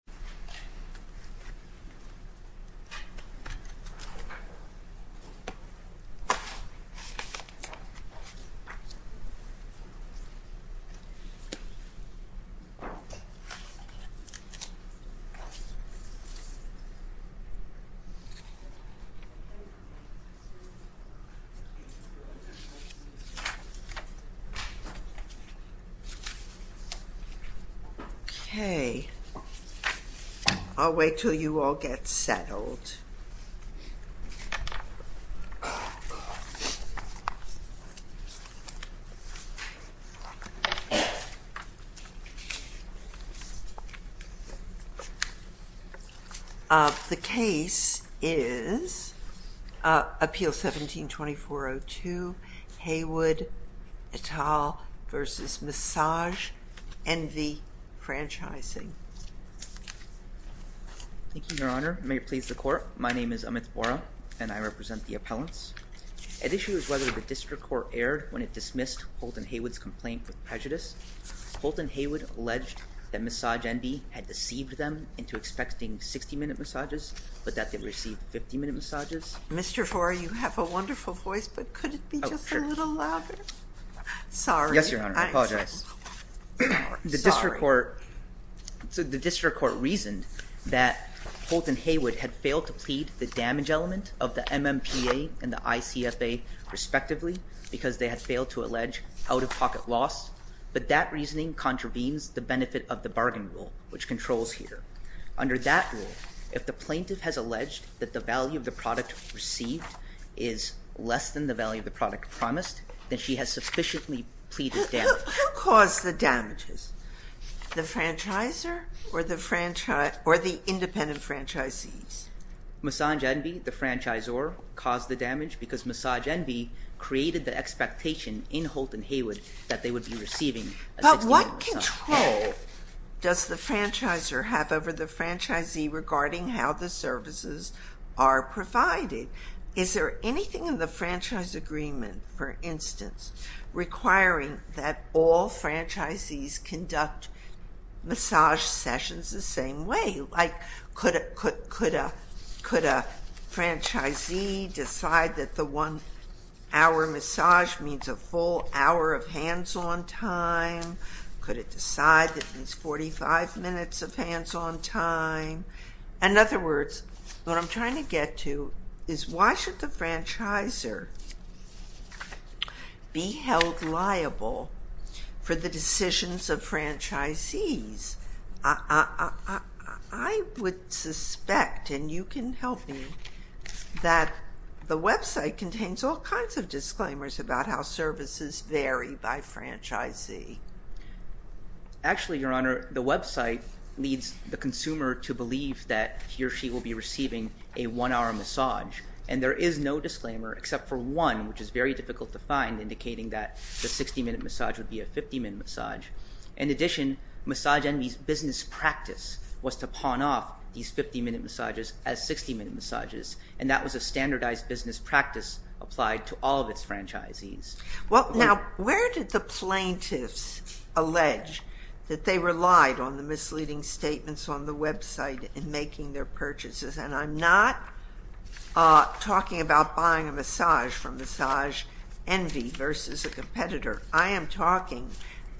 San Francisco, California I'll wait till you all get settled. The case is Appeal 17-2402 Haywood et al. v. Massage Envy Franchising. Thank you, Your Honor. May it please the Court. My name is Amit Vora, and I represent the appellants. At issue is whether the District Court erred when it dismissed Holt and Haywood's complaint with prejudice. Holt and Haywood alleged that Massage Envy had deceived them into expecting 60-minute massages, but that they received 50-minute massages. Mr. Vora, you have a wonderful voice, but could it be just a little louder? Sorry. Yes, Your Honor. I apologize. The District Court reasoned that Holt and Haywood had failed to plead the damage element of the MMPA and the ICFA, respectively, because they had failed to allege out-of-pocket loss, but that reasoning contravenes the benefit of the bargain rule, which controls here. Under that rule, if the plaintiff has alleged that the value of the product received is less than the value of the product promised, then she has sufficiently pleaded damage. Who caused the damages? The franchisor or the independent franchisees? Massage Envy, the franchisor, caused the damage because Massage Envy created the expectation in Holt and Haywood that they would be receiving a 60-minute massage. But what control does the franchisor have over the franchisee regarding how the services are provided? Is there anything in the franchise agreement, for instance, requiring that all franchisees conduct massage sessions the same way? Like, could a franchisee decide that the one-hour massage means a full hour of hands-on time? Could it decide that it means 45 minutes of hands-on time? In other words, what I'm trying to get to is why should the franchisor be held liable for the decisions of franchisees? I would suspect, and you can help me, that the website contains all kinds of disclaimers about how services vary by franchisee. Actually, Your Honor, the website leads the consumer to believe that he or she will be receiving a one-hour massage, and there is no disclaimer except for one, which is very difficult to find, indicating that the 60-minute massage would be a 50-minute massage. In addition, Massage Envy's business practice was to pawn off these 50-minute massages as 60-minute massages, and that was a standardized business practice applied to all of its franchisees. Well, now, where did the plaintiffs allege that they relied on the misleading statements on the website in making their purchases? And I'm not talking about buying a massage from Massage Envy versus a competitor. I am talking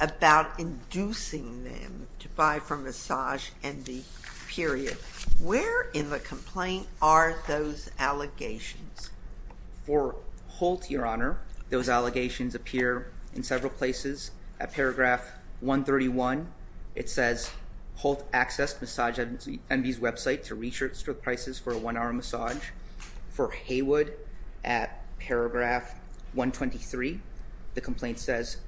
about inducing them to buy from Massage Envy, period. Where in the complaint are those allegations? For Holt, Your Honor, those allegations appear in several places. At paragraph 131, it says, Holt accessed Massage Envy's website to research prices for a one-hour massage. For Haywood, at paragraph 123, the complaint says,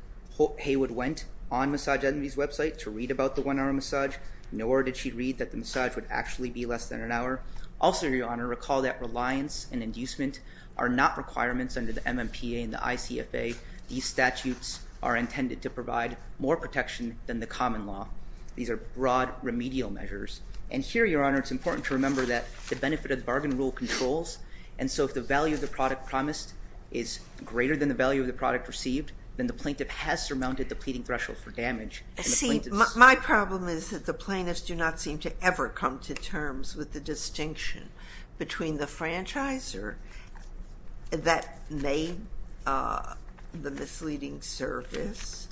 Haywood went on Massage Envy's website to read about the one-hour massage, nor did she read that the massage would actually be less than an hour. Also, Your Honor, recall that reliance and inducement are not requirements under the MMPA and the ICFA. These statutes are intended to provide more protection than the common law. These are broad remedial measures. And here, Your Honor, it's important to remember that the benefit of the bargain rule controls, and so if the value of the product promised is greater than the value of the product received, then the plaintiff has surmounted the pleading threshold for damage. See, my problem is that the plaintiffs do not seem to ever come to terms with the distinction between the franchisor that made the misleading service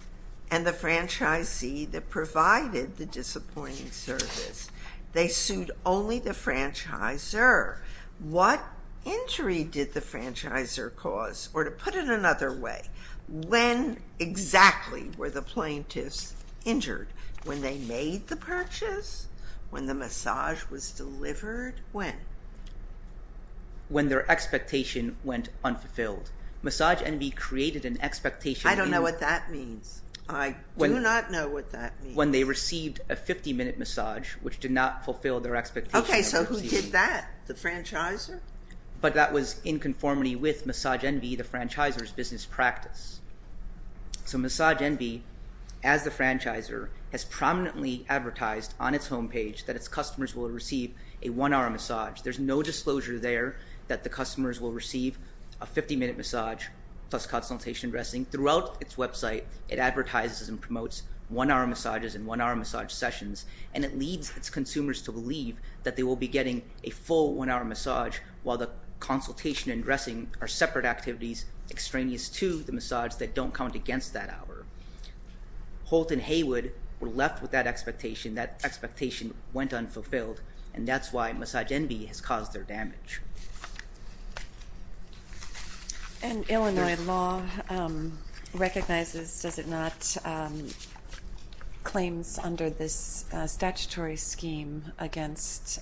and the franchisee that provided the disappointing service. They sued only the franchisor. What injury did the franchisor cause? Or to put it another way, when exactly were the plaintiffs injured? When they made the purchase? When the massage was delivered? When? When their expectation went unfulfilled. Massage Envy created an expectation. I don't know what that means. I do not know what that means. When they received a 50-minute massage, which did not fulfill their expectation. Okay, so who did that? The franchisor? But that was in conformity with Massage Envy, the franchisor's business practice. So Massage Envy, as the franchisor, has prominently advertised on its homepage that its customers will receive a one-hour massage. There's no disclosure there that the customers will receive a 50-minute massage plus consultation dressing. Throughout its website, it advertises and promotes one-hour massages and one-hour massage sessions, and it leads its consumers to believe that they will be getting a full one-hour massage while the consultation and dressing are separate activities extraneous to the massage that don't count against that hour. Holt and Haywood were left with that expectation. That expectation went unfulfilled, and that's why Massage Envy has caused their damage. And Illinois law recognizes, does it not, claims under this statutory scheme against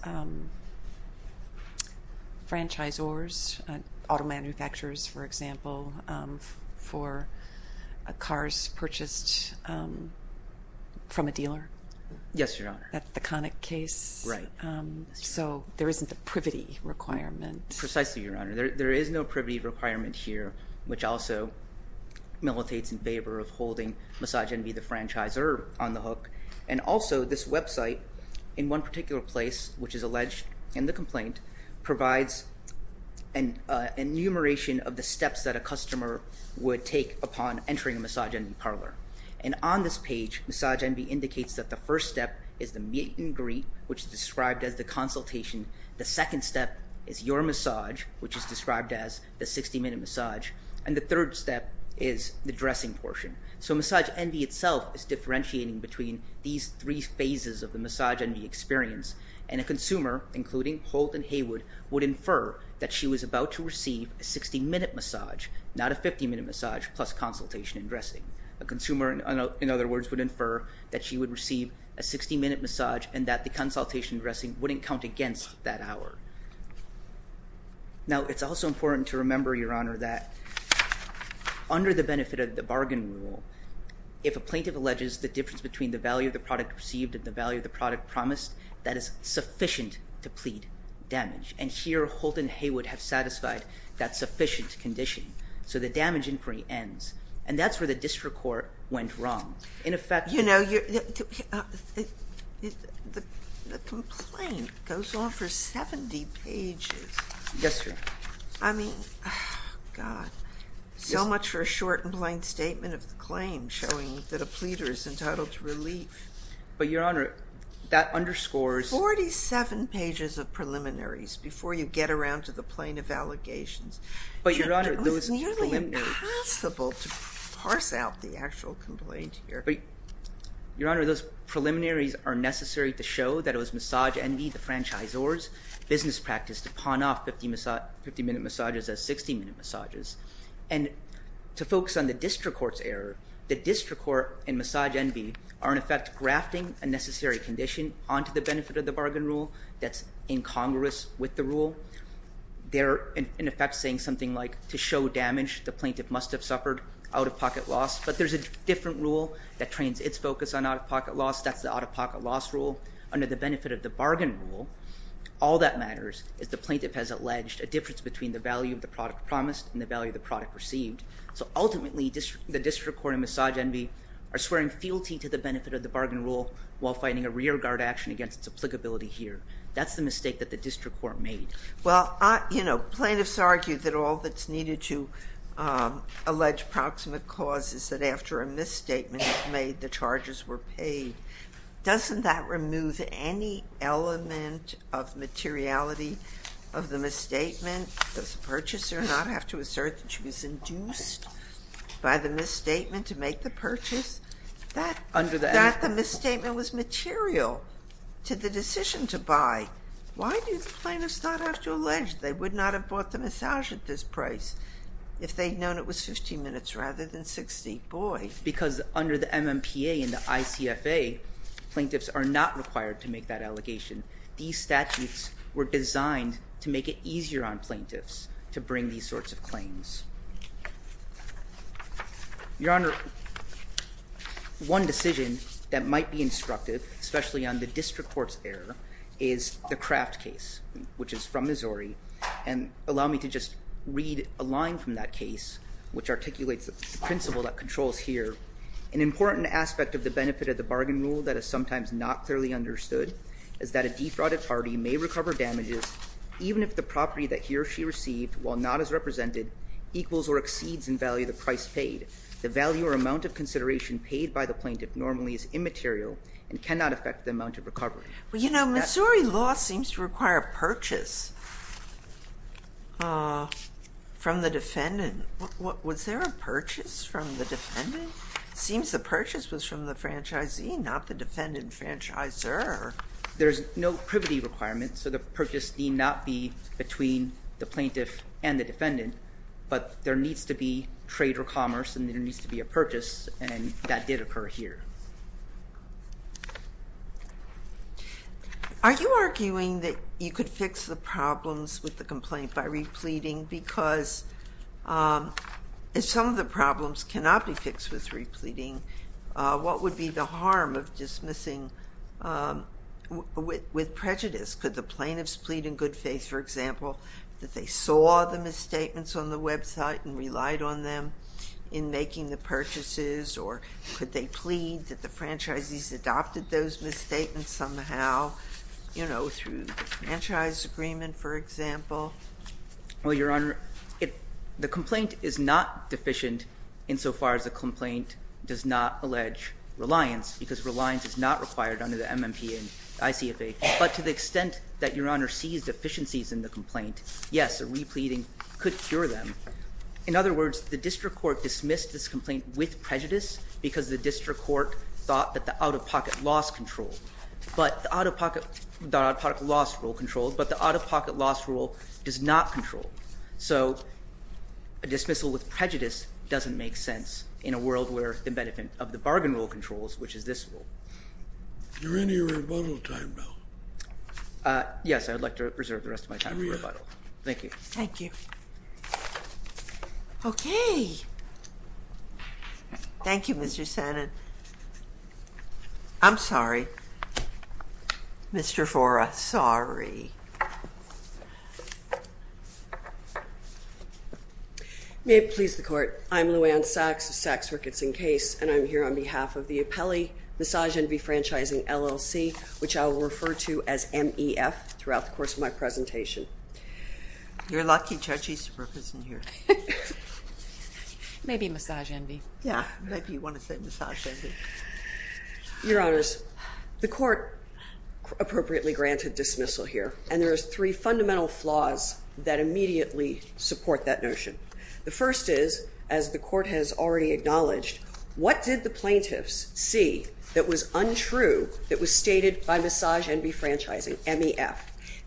franchisors, auto manufacturers, for example, for cars purchased from a dealer? Yes, Your Honor. That's the Connick case. Right. So there isn't the privity requirement. Precisely, Your Honor. There is no privity requirement here, which also militates in favor of holding Massage Envy, the franchisor, on the hook. And also this website, in one particular place, which is alleged in the complaint, provides an enumeration of the steps that a customer would take upon entering a Massage Envy parlor. And on this page, Massage Envy indicates that the first step is the meet and greet, which is described as the consultation. The second step is your massage, which is described as the 60-minute massage. And the third step is the dressing portion. So Massage Envy itself is differentiating between these three phases of the Massage Envy experience. And a consumer, including Holt and Haywood, would infer that she was about to receive a 60-minute massage, not a 50-minute massage, plus consultation and dressing. A consumer, in other words, would infer that she would receive a 60-minute massage and that the consultation and dressing wouldn't count against that hour. Now, it's also important to remember, Your Honor, that under the benefit of the bargain rule, if a plaintiff alleges the difference between the value of the product received and the value of the product promised, that is sufficient to plead damage. And here, Holt and Haywood have satisfied that sufficient condition. So the damage inquiry ends. And that's where the district court went wrong. In effect— You know, the complaint goes on for 70 pages. Yes, Your Honor. I mean, God, so much for a short and plain statement of the claim showing that a pleader is entitled to relief. But, Your Honor, that underscores— Before you get around to the plain of allegations— But, Your Honor, those preliminaries— It was nearly impossible to parse out the actual complaint here. But, Your Honor, those preliminaries are necessary to show that it was Massage Envy, the franchisor's business practice to pawn off 50-minute massages as 60-minute massages. And to focus on the district court's error, the district court and Massage Envy are, in effect, grafting a necessary condition onto the benefit of the bargain rule that's in congress with the rule. They're, in effect, saying something like, to show damage, the plaintiff must have suffered out-of-pocket loss. But there's a different rule that trains its focus on out-of-pocket loss. That's the out-of-pocket loss rule. Under the benefit of the bargain rule, all that matters is the plaintiff has alleged a difference between the value of the product promised and the value of the product received. So, ultimately, the district court and Massage Envy are swearing fealty to the benefit of the bargain rule while finding a rearguard action against its applicability here. That's the mistake that the district court made. Well, you know, plaintiffs argue that all that's needed to allege proximate cause is that after a misstatement is made, the charges were paid. Doesn't that remove any element of materiality of the misstatement? Does the purchaser not have to assert that she was induced by the misstatement to make the purchase? That the misstatement was material to the decision to buy. Why do plaintiffs not have to allege they would not have bought the massage at this price if they'd known it was 15 minutes rather than 60? Boy. Because under the MMPA and the ICFA, plaintiffs are not required to make that allegation. These statutes were designed to make it easier on plaintiffs to bring these sorts of claims. Your Honor, one decision that might be instructive, especially on the district court's error, is the Kraft case, which is from Missouri. And allow me to just read a line from that case, which articulates the principle that controls here. An important aspect of the benefit of the bargain rule that is sometimes not clearly understood is that a defrauded party may recover damages even if the property that he or she received, while not as represented, equals or exceeds in value the price paid. The value or amount of consideration paid by the plaintiff normally is immaterial and cannot affect the amount of recovery. Well, you know, Missouri law seems to require a purchase from the defendant. Was there a purchase from the defendant? It seems the purchase was from the franchisee, not the defendant franchisor. There's no privity requirement, so the purchase need not be between the plaintiff and the defendant. But there needs to be trade or commerce, and there needs to be a purchase, and that did occur here. Are you arguing that you could fix the problems with the complaint by repleting? Because if some of the problems cannot be fixed with repleting, what would be the harm of dismissing with prejudice? Could the plaintiffs plead in good faith, for example, that they saw the misstatements on the website and relied on them in making the purchases, or could they plead that the franchisees adopted those misstatements somehow, you know, through the franchise agreement, for example? Well, Your Honor, the complaint is not deficient insofar as the complaint does not allege reliance, because reliance is not required under the MMP and ICFA. But to the extent that Your Honor sees deficiencies in the complaint, yes, a repleting could cure them. In other words, the district court dismissed this complaint with prejudice because the district court thought that the out-of-pocket loss control, but the out-of-pocket loss rule does not control. So a dismissal with prejudice doesn't make sense in a world where the benefit of the bargain rule controls, which is this rule. Is there any rebuttal time now? Yes, I would like to reserve the rest of my time for rebuttal. Here we are. Thank you. Thank you. Okay. Thank you, Mr. Senate. I'm sorry. Mr. Fora, sorry. May it please the Court. I'm Lou Anne Sachs of Sachs, Ricketts & Case, and I'm here on behalf of the Apelli Massage Envy Franchising, LLC, which I will refer to as MEF throughout the course of my presentation. You're lucky Judge Easterbrook isn't here. Maybe Massage Envy. Yeah, maybe you want to say Massage Envy. Your Honors, the Court appropriately granted dismissal here, and there are three fundamental flaws that immediately support that notion. The first is, as the Court has already acknowledged, what did the plaintiffs see that was untrue that was stated by Massage Envy Franchising, MEF?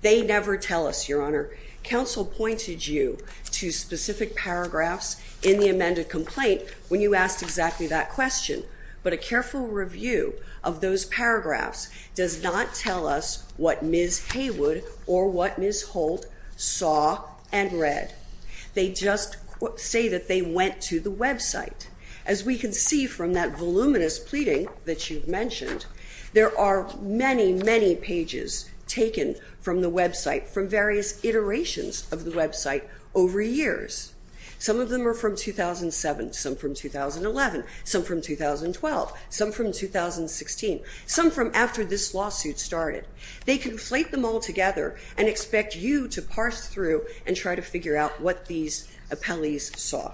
They never tell us, Your Honor. Counsel pointed you to specific paragraphs in the amended complaint when you asked exactly that question, but a careful review of those paragraphs does not tell us what Ms. Haywood or what Ms. Holt saw and read. They just say that they went to the website. As we can see from that voluminous pleading that you've mentioned, there are many, many pages taken from the website from various iterations of the website over years. Some of them are from 2007, some from 2011, some from 2012, some from 2016, some from after this lawsuit started. They conflate them all together and expect you to parse through and try to figure out what these appellees saw.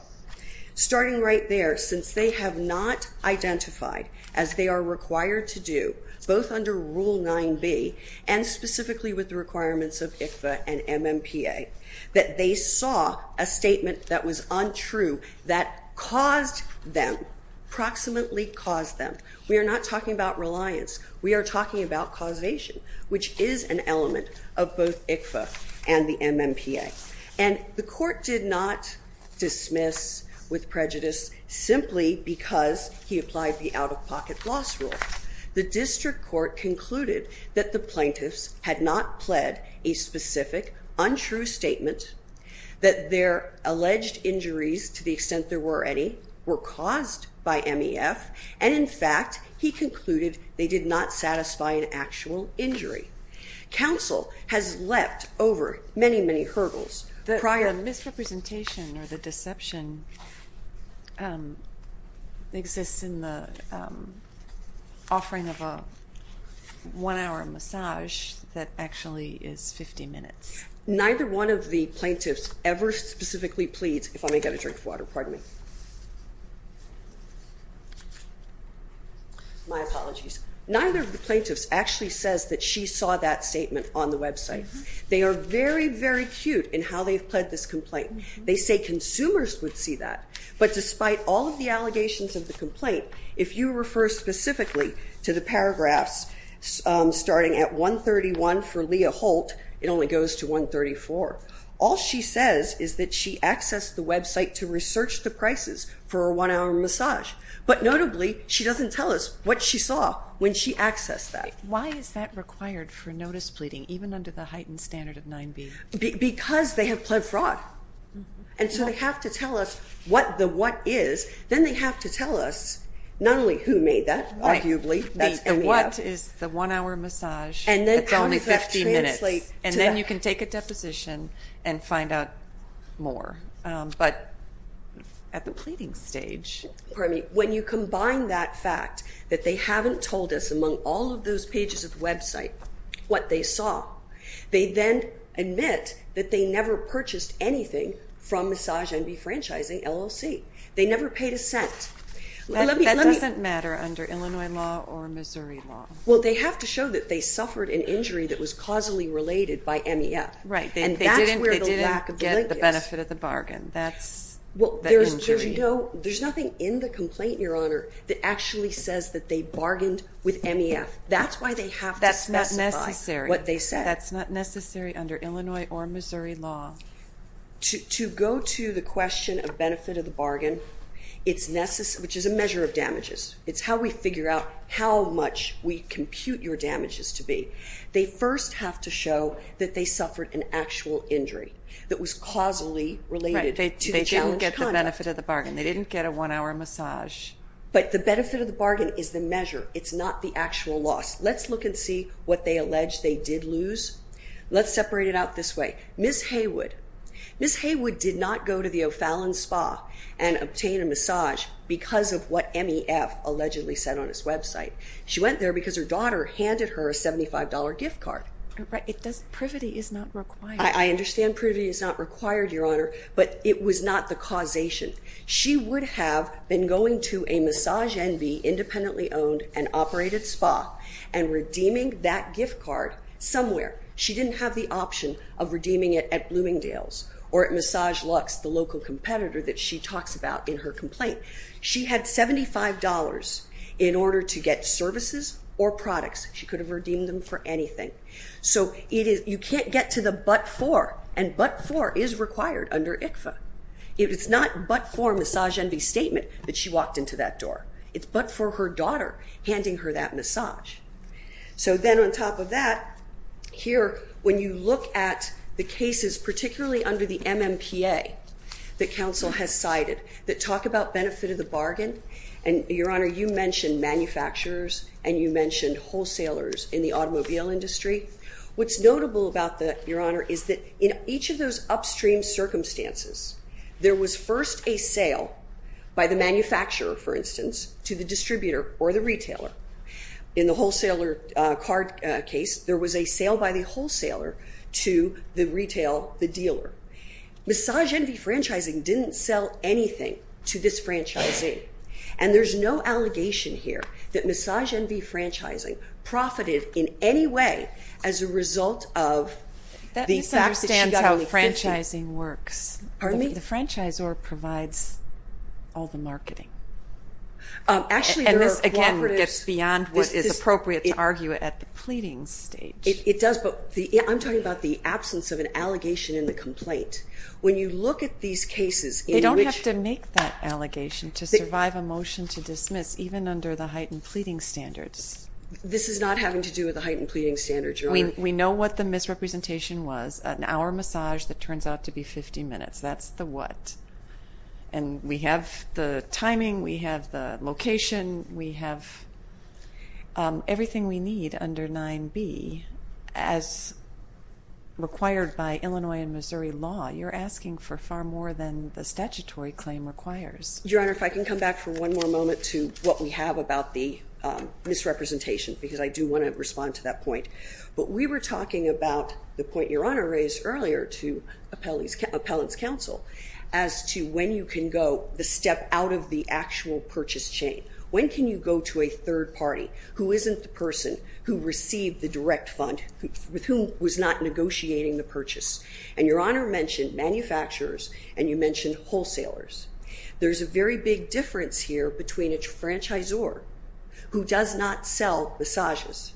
Starting right there, since they have not identified, as they are required to do, both under Rule 9B and specifically with the requirements of ICFA and MMPA, we are talking about a statement that was untrue that caused them, proximately caused them. We are not talking about reliance. We are talking about causation, which is an element of both ICFA and the MMPA. And the court did not dismiss with prejudice simply because he applied the out-of-pocket loss rule. The district court concluded that the plaintiffs had not pled a specific untrue statement, that their alleged injuries, to the extent there were any, were caused by MEF, and, in fact, he concluded they did not satisfy an actual injury. Counsel has leapt over many, many hurdles prior. The misrepresentation or the deception exists in the offering of a one-hour massage that actually is 50 minutes. Neither one of the plaintiffs ever specifically pleads, if I may get a drink of water, pardon me. My apologies. Neither of the plaintiffs actually says that she saw that statement on the website. They are very, very acute in how they've pled this complaint. They say consumers would see that. But despite all of the allegations of the complaint, if you refer specifically to the paragraphs starting at 131 for Leah Holt, it only goes to 134. All she says is that she accessed the website to research the prices for a one-hour massage. But, notably, she doesn't tell us what she saw when she accessed that. Why is that required for notice pleading, even under the heightened standard of 9B? Because they have pled fraud. And so they have to tell us what the what is. Then they have to tell us not only who made that, arguably. The what is the one-hour massage that's only 50 minutes. And then you can take a deposition and find out more. But at the pleading stage. Pardon me. When you combine that fact that they haven't told us among all of those pages of the website what they saw, they then admit that they never purchased anything from Massage NB Franchising, LLC. They never paid a cent. That doesn't matter under Illinois law or Missouri law. Well, they have to show that they suffered an injury that was causally related by MEF. Right. And that's where the lack of the link is. They didn't get the benefit of the bargain. That's the injury. Well, there's nothing in the complaint, Your Honor, that actually says that they bargained with MEF. That's why they have to specify what they said. That's not necessary. That's not necessary under Illinois or Missouri law. To go to the question of benefit of the bargain, which is a measure of damages, it's how we figure out how much we compute your damages to be. They first have to show that they suffered an actual injury that was causally related to the challenged conduct. They didn't get the benefit of the bargain. They didn't get a one-hour massage. But the benefit of the bargain is the measure. It's not the actual loss. Let's look and see what they allege they did lose. Let's separate it out this way. Ms. Haywood. Ms. Haywood did not go to the O'Fallon Spa and obtain a massage because of what MEF allegedly said on its website. She went there because her daughter handed her a $75 gift card. Privity is not required. I understand privity is not required, Your Honor, but it was not the causation. She would have been going to a Massage Envy independently owned and operated spa and redeeming that gift card somewhere. She didn't have the option of redeeming it at Bloomingdale's or at Massage Lux, the local competitor that she talks about in her complaint. She had $75 in order to get services or products. She could have redeemed them for anything. You can't get to the but for, and but for is required under ICFA. It's not but for Massage Envy statement that she walked into that door. It's but for her daughter handing her that massage. So then on top of that, here when you look at the cases, particularly under the MMPA that counsel has cited that talk about benefit of the bargain, and Your Honor, you mentioned manufacturers and you mentioned wholesalers in the automobile industry. What's notable about that, Your Honor, is that in each of those upstream circumstances, there was first a sale by the manufacturer, for instance, to the distributor or the retailer. In the wholesaler card case, there was a sale by the wholesaler to the retail, the dealer. Massage Envy Franchising didn't sell anything to this franchising, and there's no allegation here that Massage Envy Franchising profited in any way as a result of the fact that she got a gift card. That misunderstands how franchising works. Pardon me? The franchisor provides all the marketing. Actually, there are cooperative – And this, again, gets beyond what is appropriate to argue at the pleading stage. It does, but I'm talking about the absence of an allegation in the complaint. When you look at these cases in which – They don't have to make that allegation to survive a motion to dismiss, even under the heightened pleading standards. This is not having to do with the heightened pleading standards, Your Honor. We know what the misrepresentation was, an hour massage that turns out to be 50 minutes. That's the what. And we have the timing, we have the location, we have everything we need under 9B as required by Illinois and Missouri law. You're asking for far more than the statutory claim requires. Your Honor, if I can come back for one more moment to what we have about the misrepresentation, because I do want to respond to that point. But we were talking about the point Your Honor raised earlier to appellant's counsel as to when you can go the step out of the actual purchase chain. When can you go to a third party who isn't the person who received the direct fund with whom was not negotiating the purchase? And Your Honor mentioned manufacturers and you mentioned wholesalers. There's a very big difference here between a franchisor who does not sell massages,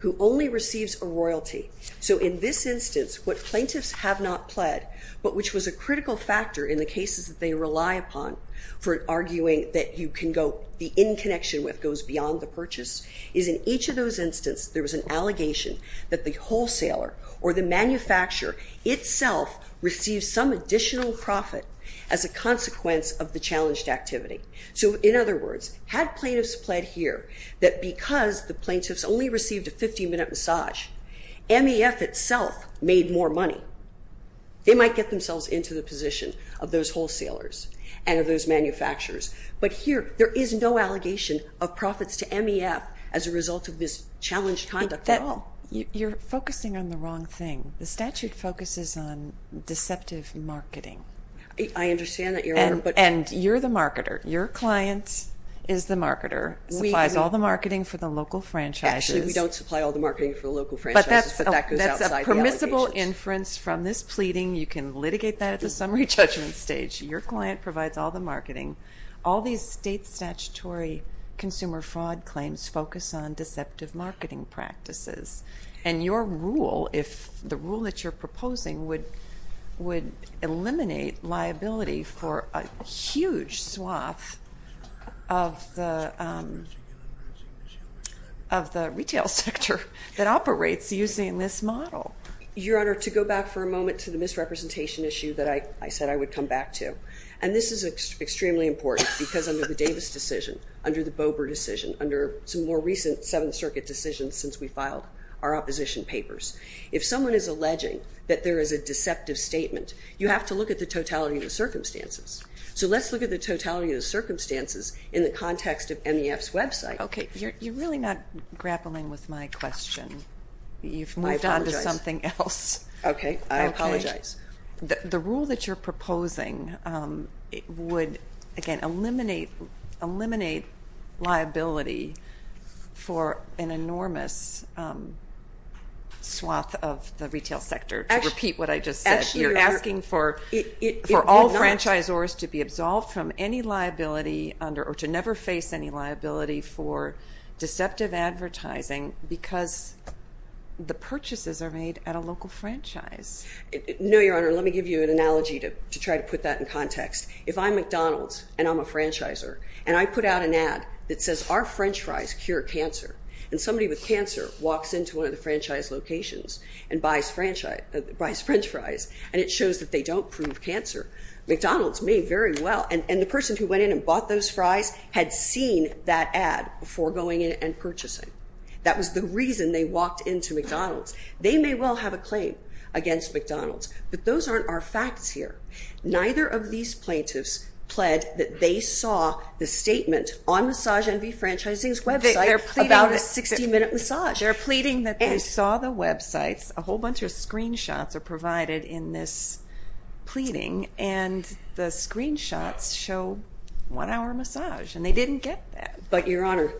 who only receives a royalty. So in this instance, what plaintiffs have not pled, but which was a critical factor in the cases that they rely upon for arguing that you can go the in connection with goes beyond the purchase, is in each of those instances there was an allegation that the wholesaler or the manufacturer itself received some additional profit as a consequence of the challenged activity. So in other words, had plaintiffs pled here that because the plaintiffs only received a 15-minute massage, MEF itself made more money, they might get themselves into the position of those wholesalers and of those manufacturers. But here there is no allegation of profits to MEF as a result of this challenged conduct at all. You're focusing on the wrong thing. I understand that, Your Honor. And you're the marketer. Your client is the marketer, supplies all the marketing for the local franchises. Actually, we don't supply all the marketing for the local franchises, but that goes outside the allegations. But that's a permissible inference from this pleading. You can litigate that at the summary judgment stage. Your client provides all the marketing. All these state statutory consumer fraud claims focus on deceptive marketing practices. And your rule, if the rule that you're proposing would eliminate liability for a huge swath of the retail sector that operates using this model. Your Honor, to go back for a moment to the misrepresentation issue that I said I would come back to. And this is extremely important because under the Davis decision, under the Bober decision, under some more recent Seventh Circuit decisions since we filed our opposition papers, if someone is alleging that there is a deceptive statement, you have to look at the totality of the circumstances. So let's look at the totality of the circumstances in the context of MEF's website. Okay. You're really not grappling with my question. I apologize. You've moved on to something else. Okay. I apologize. The rule that you're proposing would, again, eliminate liability for an enormous swath of the retail sector. To repeat what I just said, you're asking for all franchisors to be absolved from any liability under, or to never face any liability for deceptive advertising because the purchases are made at a local franchise. No, Your Honor. Let me give you an analogy to try to put that in context. If I'm McDonald's and I'm a franchisor and I put out an ad that says, our french fries cure cancer, and somebody with cancer walks into one of the franchise locations and buys french fries and it shows that they don't prove cancer, McDonald's may very well, and the person who went in and bought those fries had seen that ad before going in and purchasing. That was the reason they walked into McDonald's. They may well have a claim against McDonald's, but those aren't our facts here. Neither of these plaintiffs pled that they saw the statement on Massage and Defranchising's website about a 60-minute massage. They're pleading that they saw the websites. A whole bunch of screenshots are provided in this pleading, and the screenshots show one-hour massage, and they didn't get that. But, Your Honor,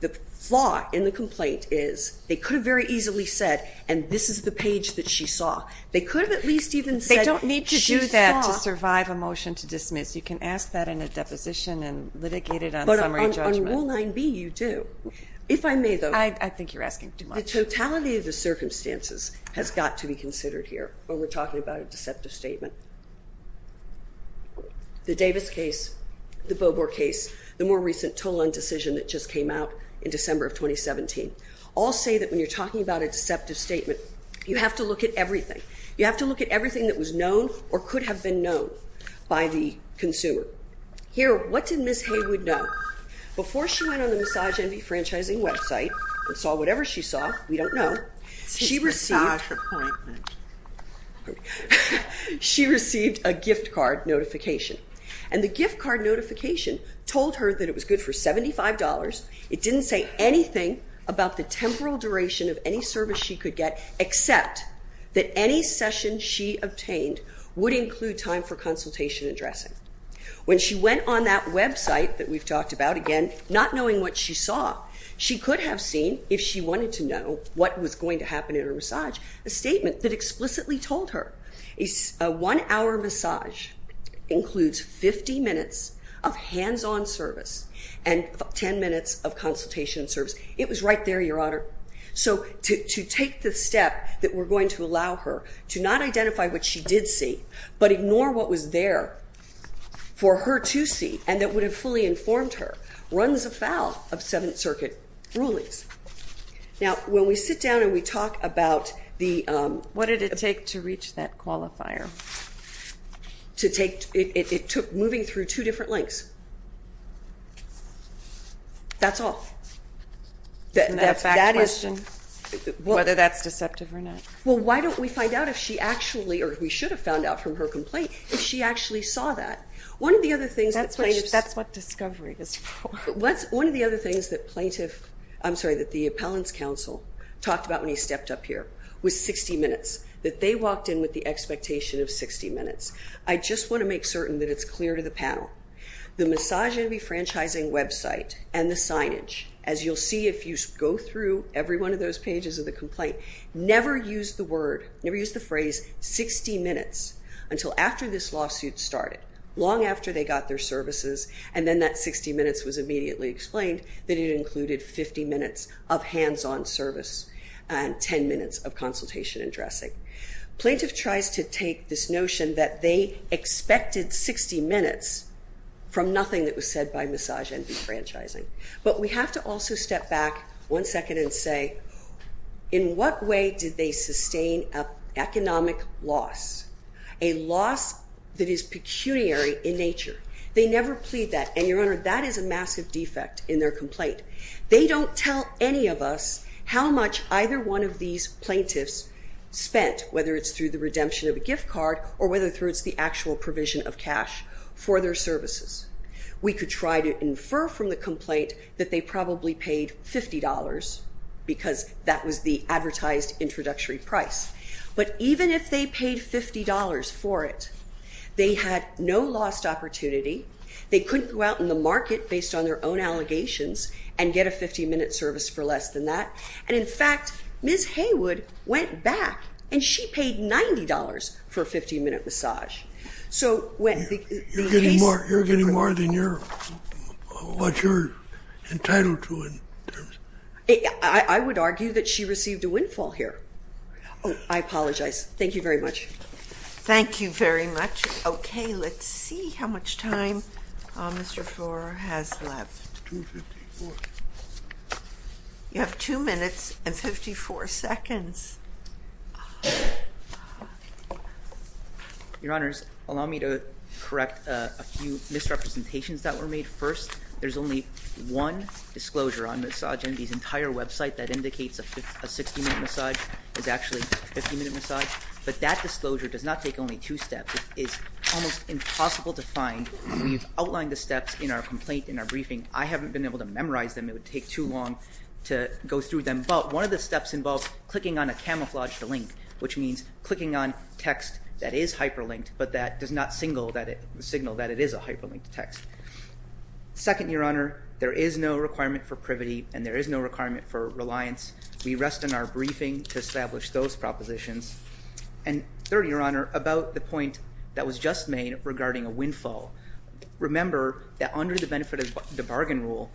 the flaw in the complaint is they could have very easily said, and this is the page that she saw. They could have at least even said she saw. They don't need to do that to survive a motion to dismiss. You can ask that in a deposition and litigate it on summary judgment. But on Rule 9b, you do. If I may, though. I think you're asking too much. The totality of the circumstances has got to be considered here when we're talking about a deceptive statement. The Davis case, the Bobor case, the more recent Tolan decision that just came out in December of 2017, all say that when you're talking about a deceptive statement, you have to look at everything. You have to look at everything that was known or could have been known by the consumer. Here, what did Ms. Haywood know? Before she went on the Massage Envy Franchising website and saw whatever she saw, we don't know, she received a gift card notification. And the gift card notification told her that it was good for $75. It didn't say anything about the temporal duration of any service she could get except that any session she obtained would include time for consultation and dressing. When she went on that website that we've talked about, again, not knowing what she saw, she could have seen, if she wanted to know, what was going to happen in her massage, a statement that explicitly told her. A one-hour massage includes 50 minutes of hands-on service and 10 minutes of consultation service. It was right there, Your Honor. So to take the step that we're going to allow her to not identify what she did see but ignore what was there for her to see and that would have fully informed her runs afoul of Seventh Circuit rulings. Now, when we sit down and we talk about the... What did it take to reach that qualifier? It took moving through two different links. That's all. That's a fact question, whether that's deceptive or not. Well, why don't we find out if she actually, or we should have found out from her complaint, if she actually saw that. One of the other things that plaintiffs... That's what discovery is for. One of the other things that plaintiff... I'm sorry, that the appellant's counsel talked about when he stepped up here was 60 minutes, that they walked in with the expectation of 60 minutes. I just want to make certain that it's clear to the panel. The Massage and Refranchising website and the signage, as you'll see if you go through every one of those pages of the complaint, never use the word, never use the phrase 60 minutes until after this lawsuit started, long after they got their services, and then that 60 minutes was immediately explained, that it included 50 minutes of hands-on service and 10 minutes of consultation and dressing. Plaintiff tries to take this notion that they expected 60 minutes from nothing that was said by Massage and Refranchising. But we have to also step back one second and say, in what way did they sustain an economic loss, a loss that is pecuniary in nature? They never plead that. And, Your Honour, that is a massive defect in their complaint. They don't tell any of us how much either one of these plaintiffs spent, whether it's through the redemption of a gift card or whether it's through the actual provision of cash for their services. We could try to infer from the complaint that they probably paid $50 because that was the advertised introductory price. But even if they paid $50 for it, they had no lost opportunity. They couldn't go out in the market based on their own allegations and get a 50-minute service for less than that. And, in fact, Ms. Haywood went back and she paid $90 for a 50-minute massage. You're getting more than what you're entitled to in terms of... I would argue that she received a windfall here. Oh, I apologize. Thank you very much. Thank you very much. Okay, let's see how much time Mr. Flora has left. You have 2 minutes and 54 seconds. Your Honors, allow me to correct a few misrepresentations that were made. First, there's only one disclosure on Massage Envy's entire website that indicates a 60-minute massage is actually a 50-minute massage. But that disclosure does not take only two steps. It's almost impossible to find. We've outlined the steps in our complaint, in our briefing. I haven't been able to memorize them. It would take too long to go through them. But one of the steps involves clicking on a camouflaged link, which means clicking on text that is hyperlinked but that does not signal that it is a hyperlinked text. Second, Your Honor, there is no requirement for privity and there is no requirement for reliance. We rest in our briefing to establish those propositions. And third, Your Honor, about the point that was just made regarding a windfall. Remember that under the benefit of the bargain rule,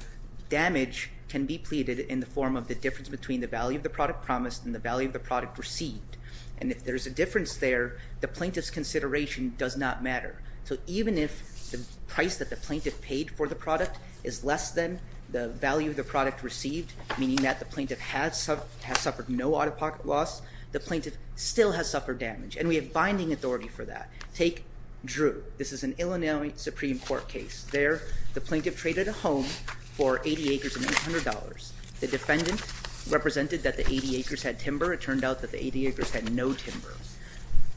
damage can be pleaded in the form of the difference between the value of the product promised and the value of the product received. And if there's a difference there, the plaintiff's consideration does not matter. So even if the price that the plaintiff paid for the product is less than the value of the product received, meaning that the plaintiff has suffered no out-of-pocket loss, the plaintiff still has suffered damage. And we have binding authority for that. Take Drew. This is an Illinois Supreme Court case. There, the plaintiff traded a home for 80 acres and $800. The defendant represented that the 80 acres had timber. It turned out that the 80 acres had no timber.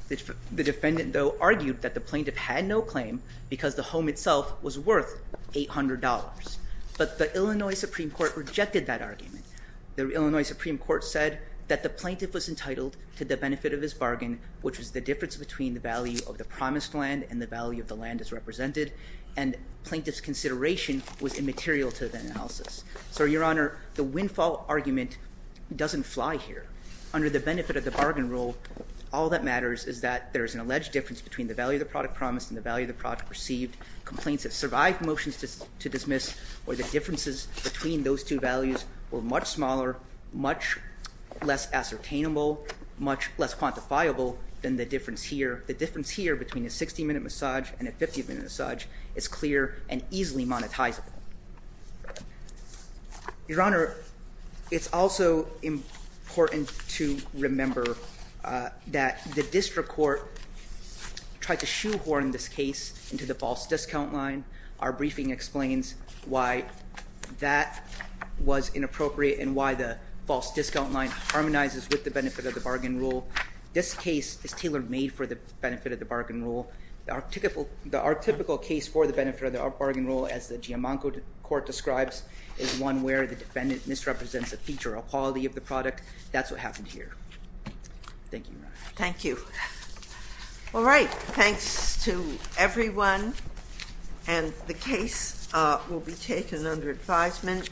The defendant, though, argued that the plaintiff had no claim because the home itself was worth $800. But the Illinois Supreme Court rejected that argument. The Illinois Supreme Court said that the plaintiff was entitled to the benefit of his bargain, which was the difference between the value of the promised land and the value of the land as represented. And plaintiff's consideration was immaterial to that analysis. So, Your Honor, the windfall argument doesn't fly here. Under the benefit of the bargain rule, all that matters is that there is an alleged difference between the value of the product promised and the value of the product received. Complaints that survived motions to dismiss or the differences between those two values were much smaller, much less ascertainable, much less quantifiable than the difference here. The difference here between a 60-minute massage and a 50-minute massage is clear and easily monetizable. Your Honor, it's also important to remember that the district court tried to shoehorn this case into the false discount line. Our briefing explains why that was inappropriate and why the false discount line harmonizes with the benefit of the bargain rule. This case is tailor-made for the benefit of the bargain rule. The archetypical case for the benefit of the bargain rule, as the Giammanco Court describes, is one where the defendant misrepresents a feature or a quality of the product. That's what happened here. Thank you, Your Honor. Thank you. All right. Thanks to everyone. And the case will be taken under advisement.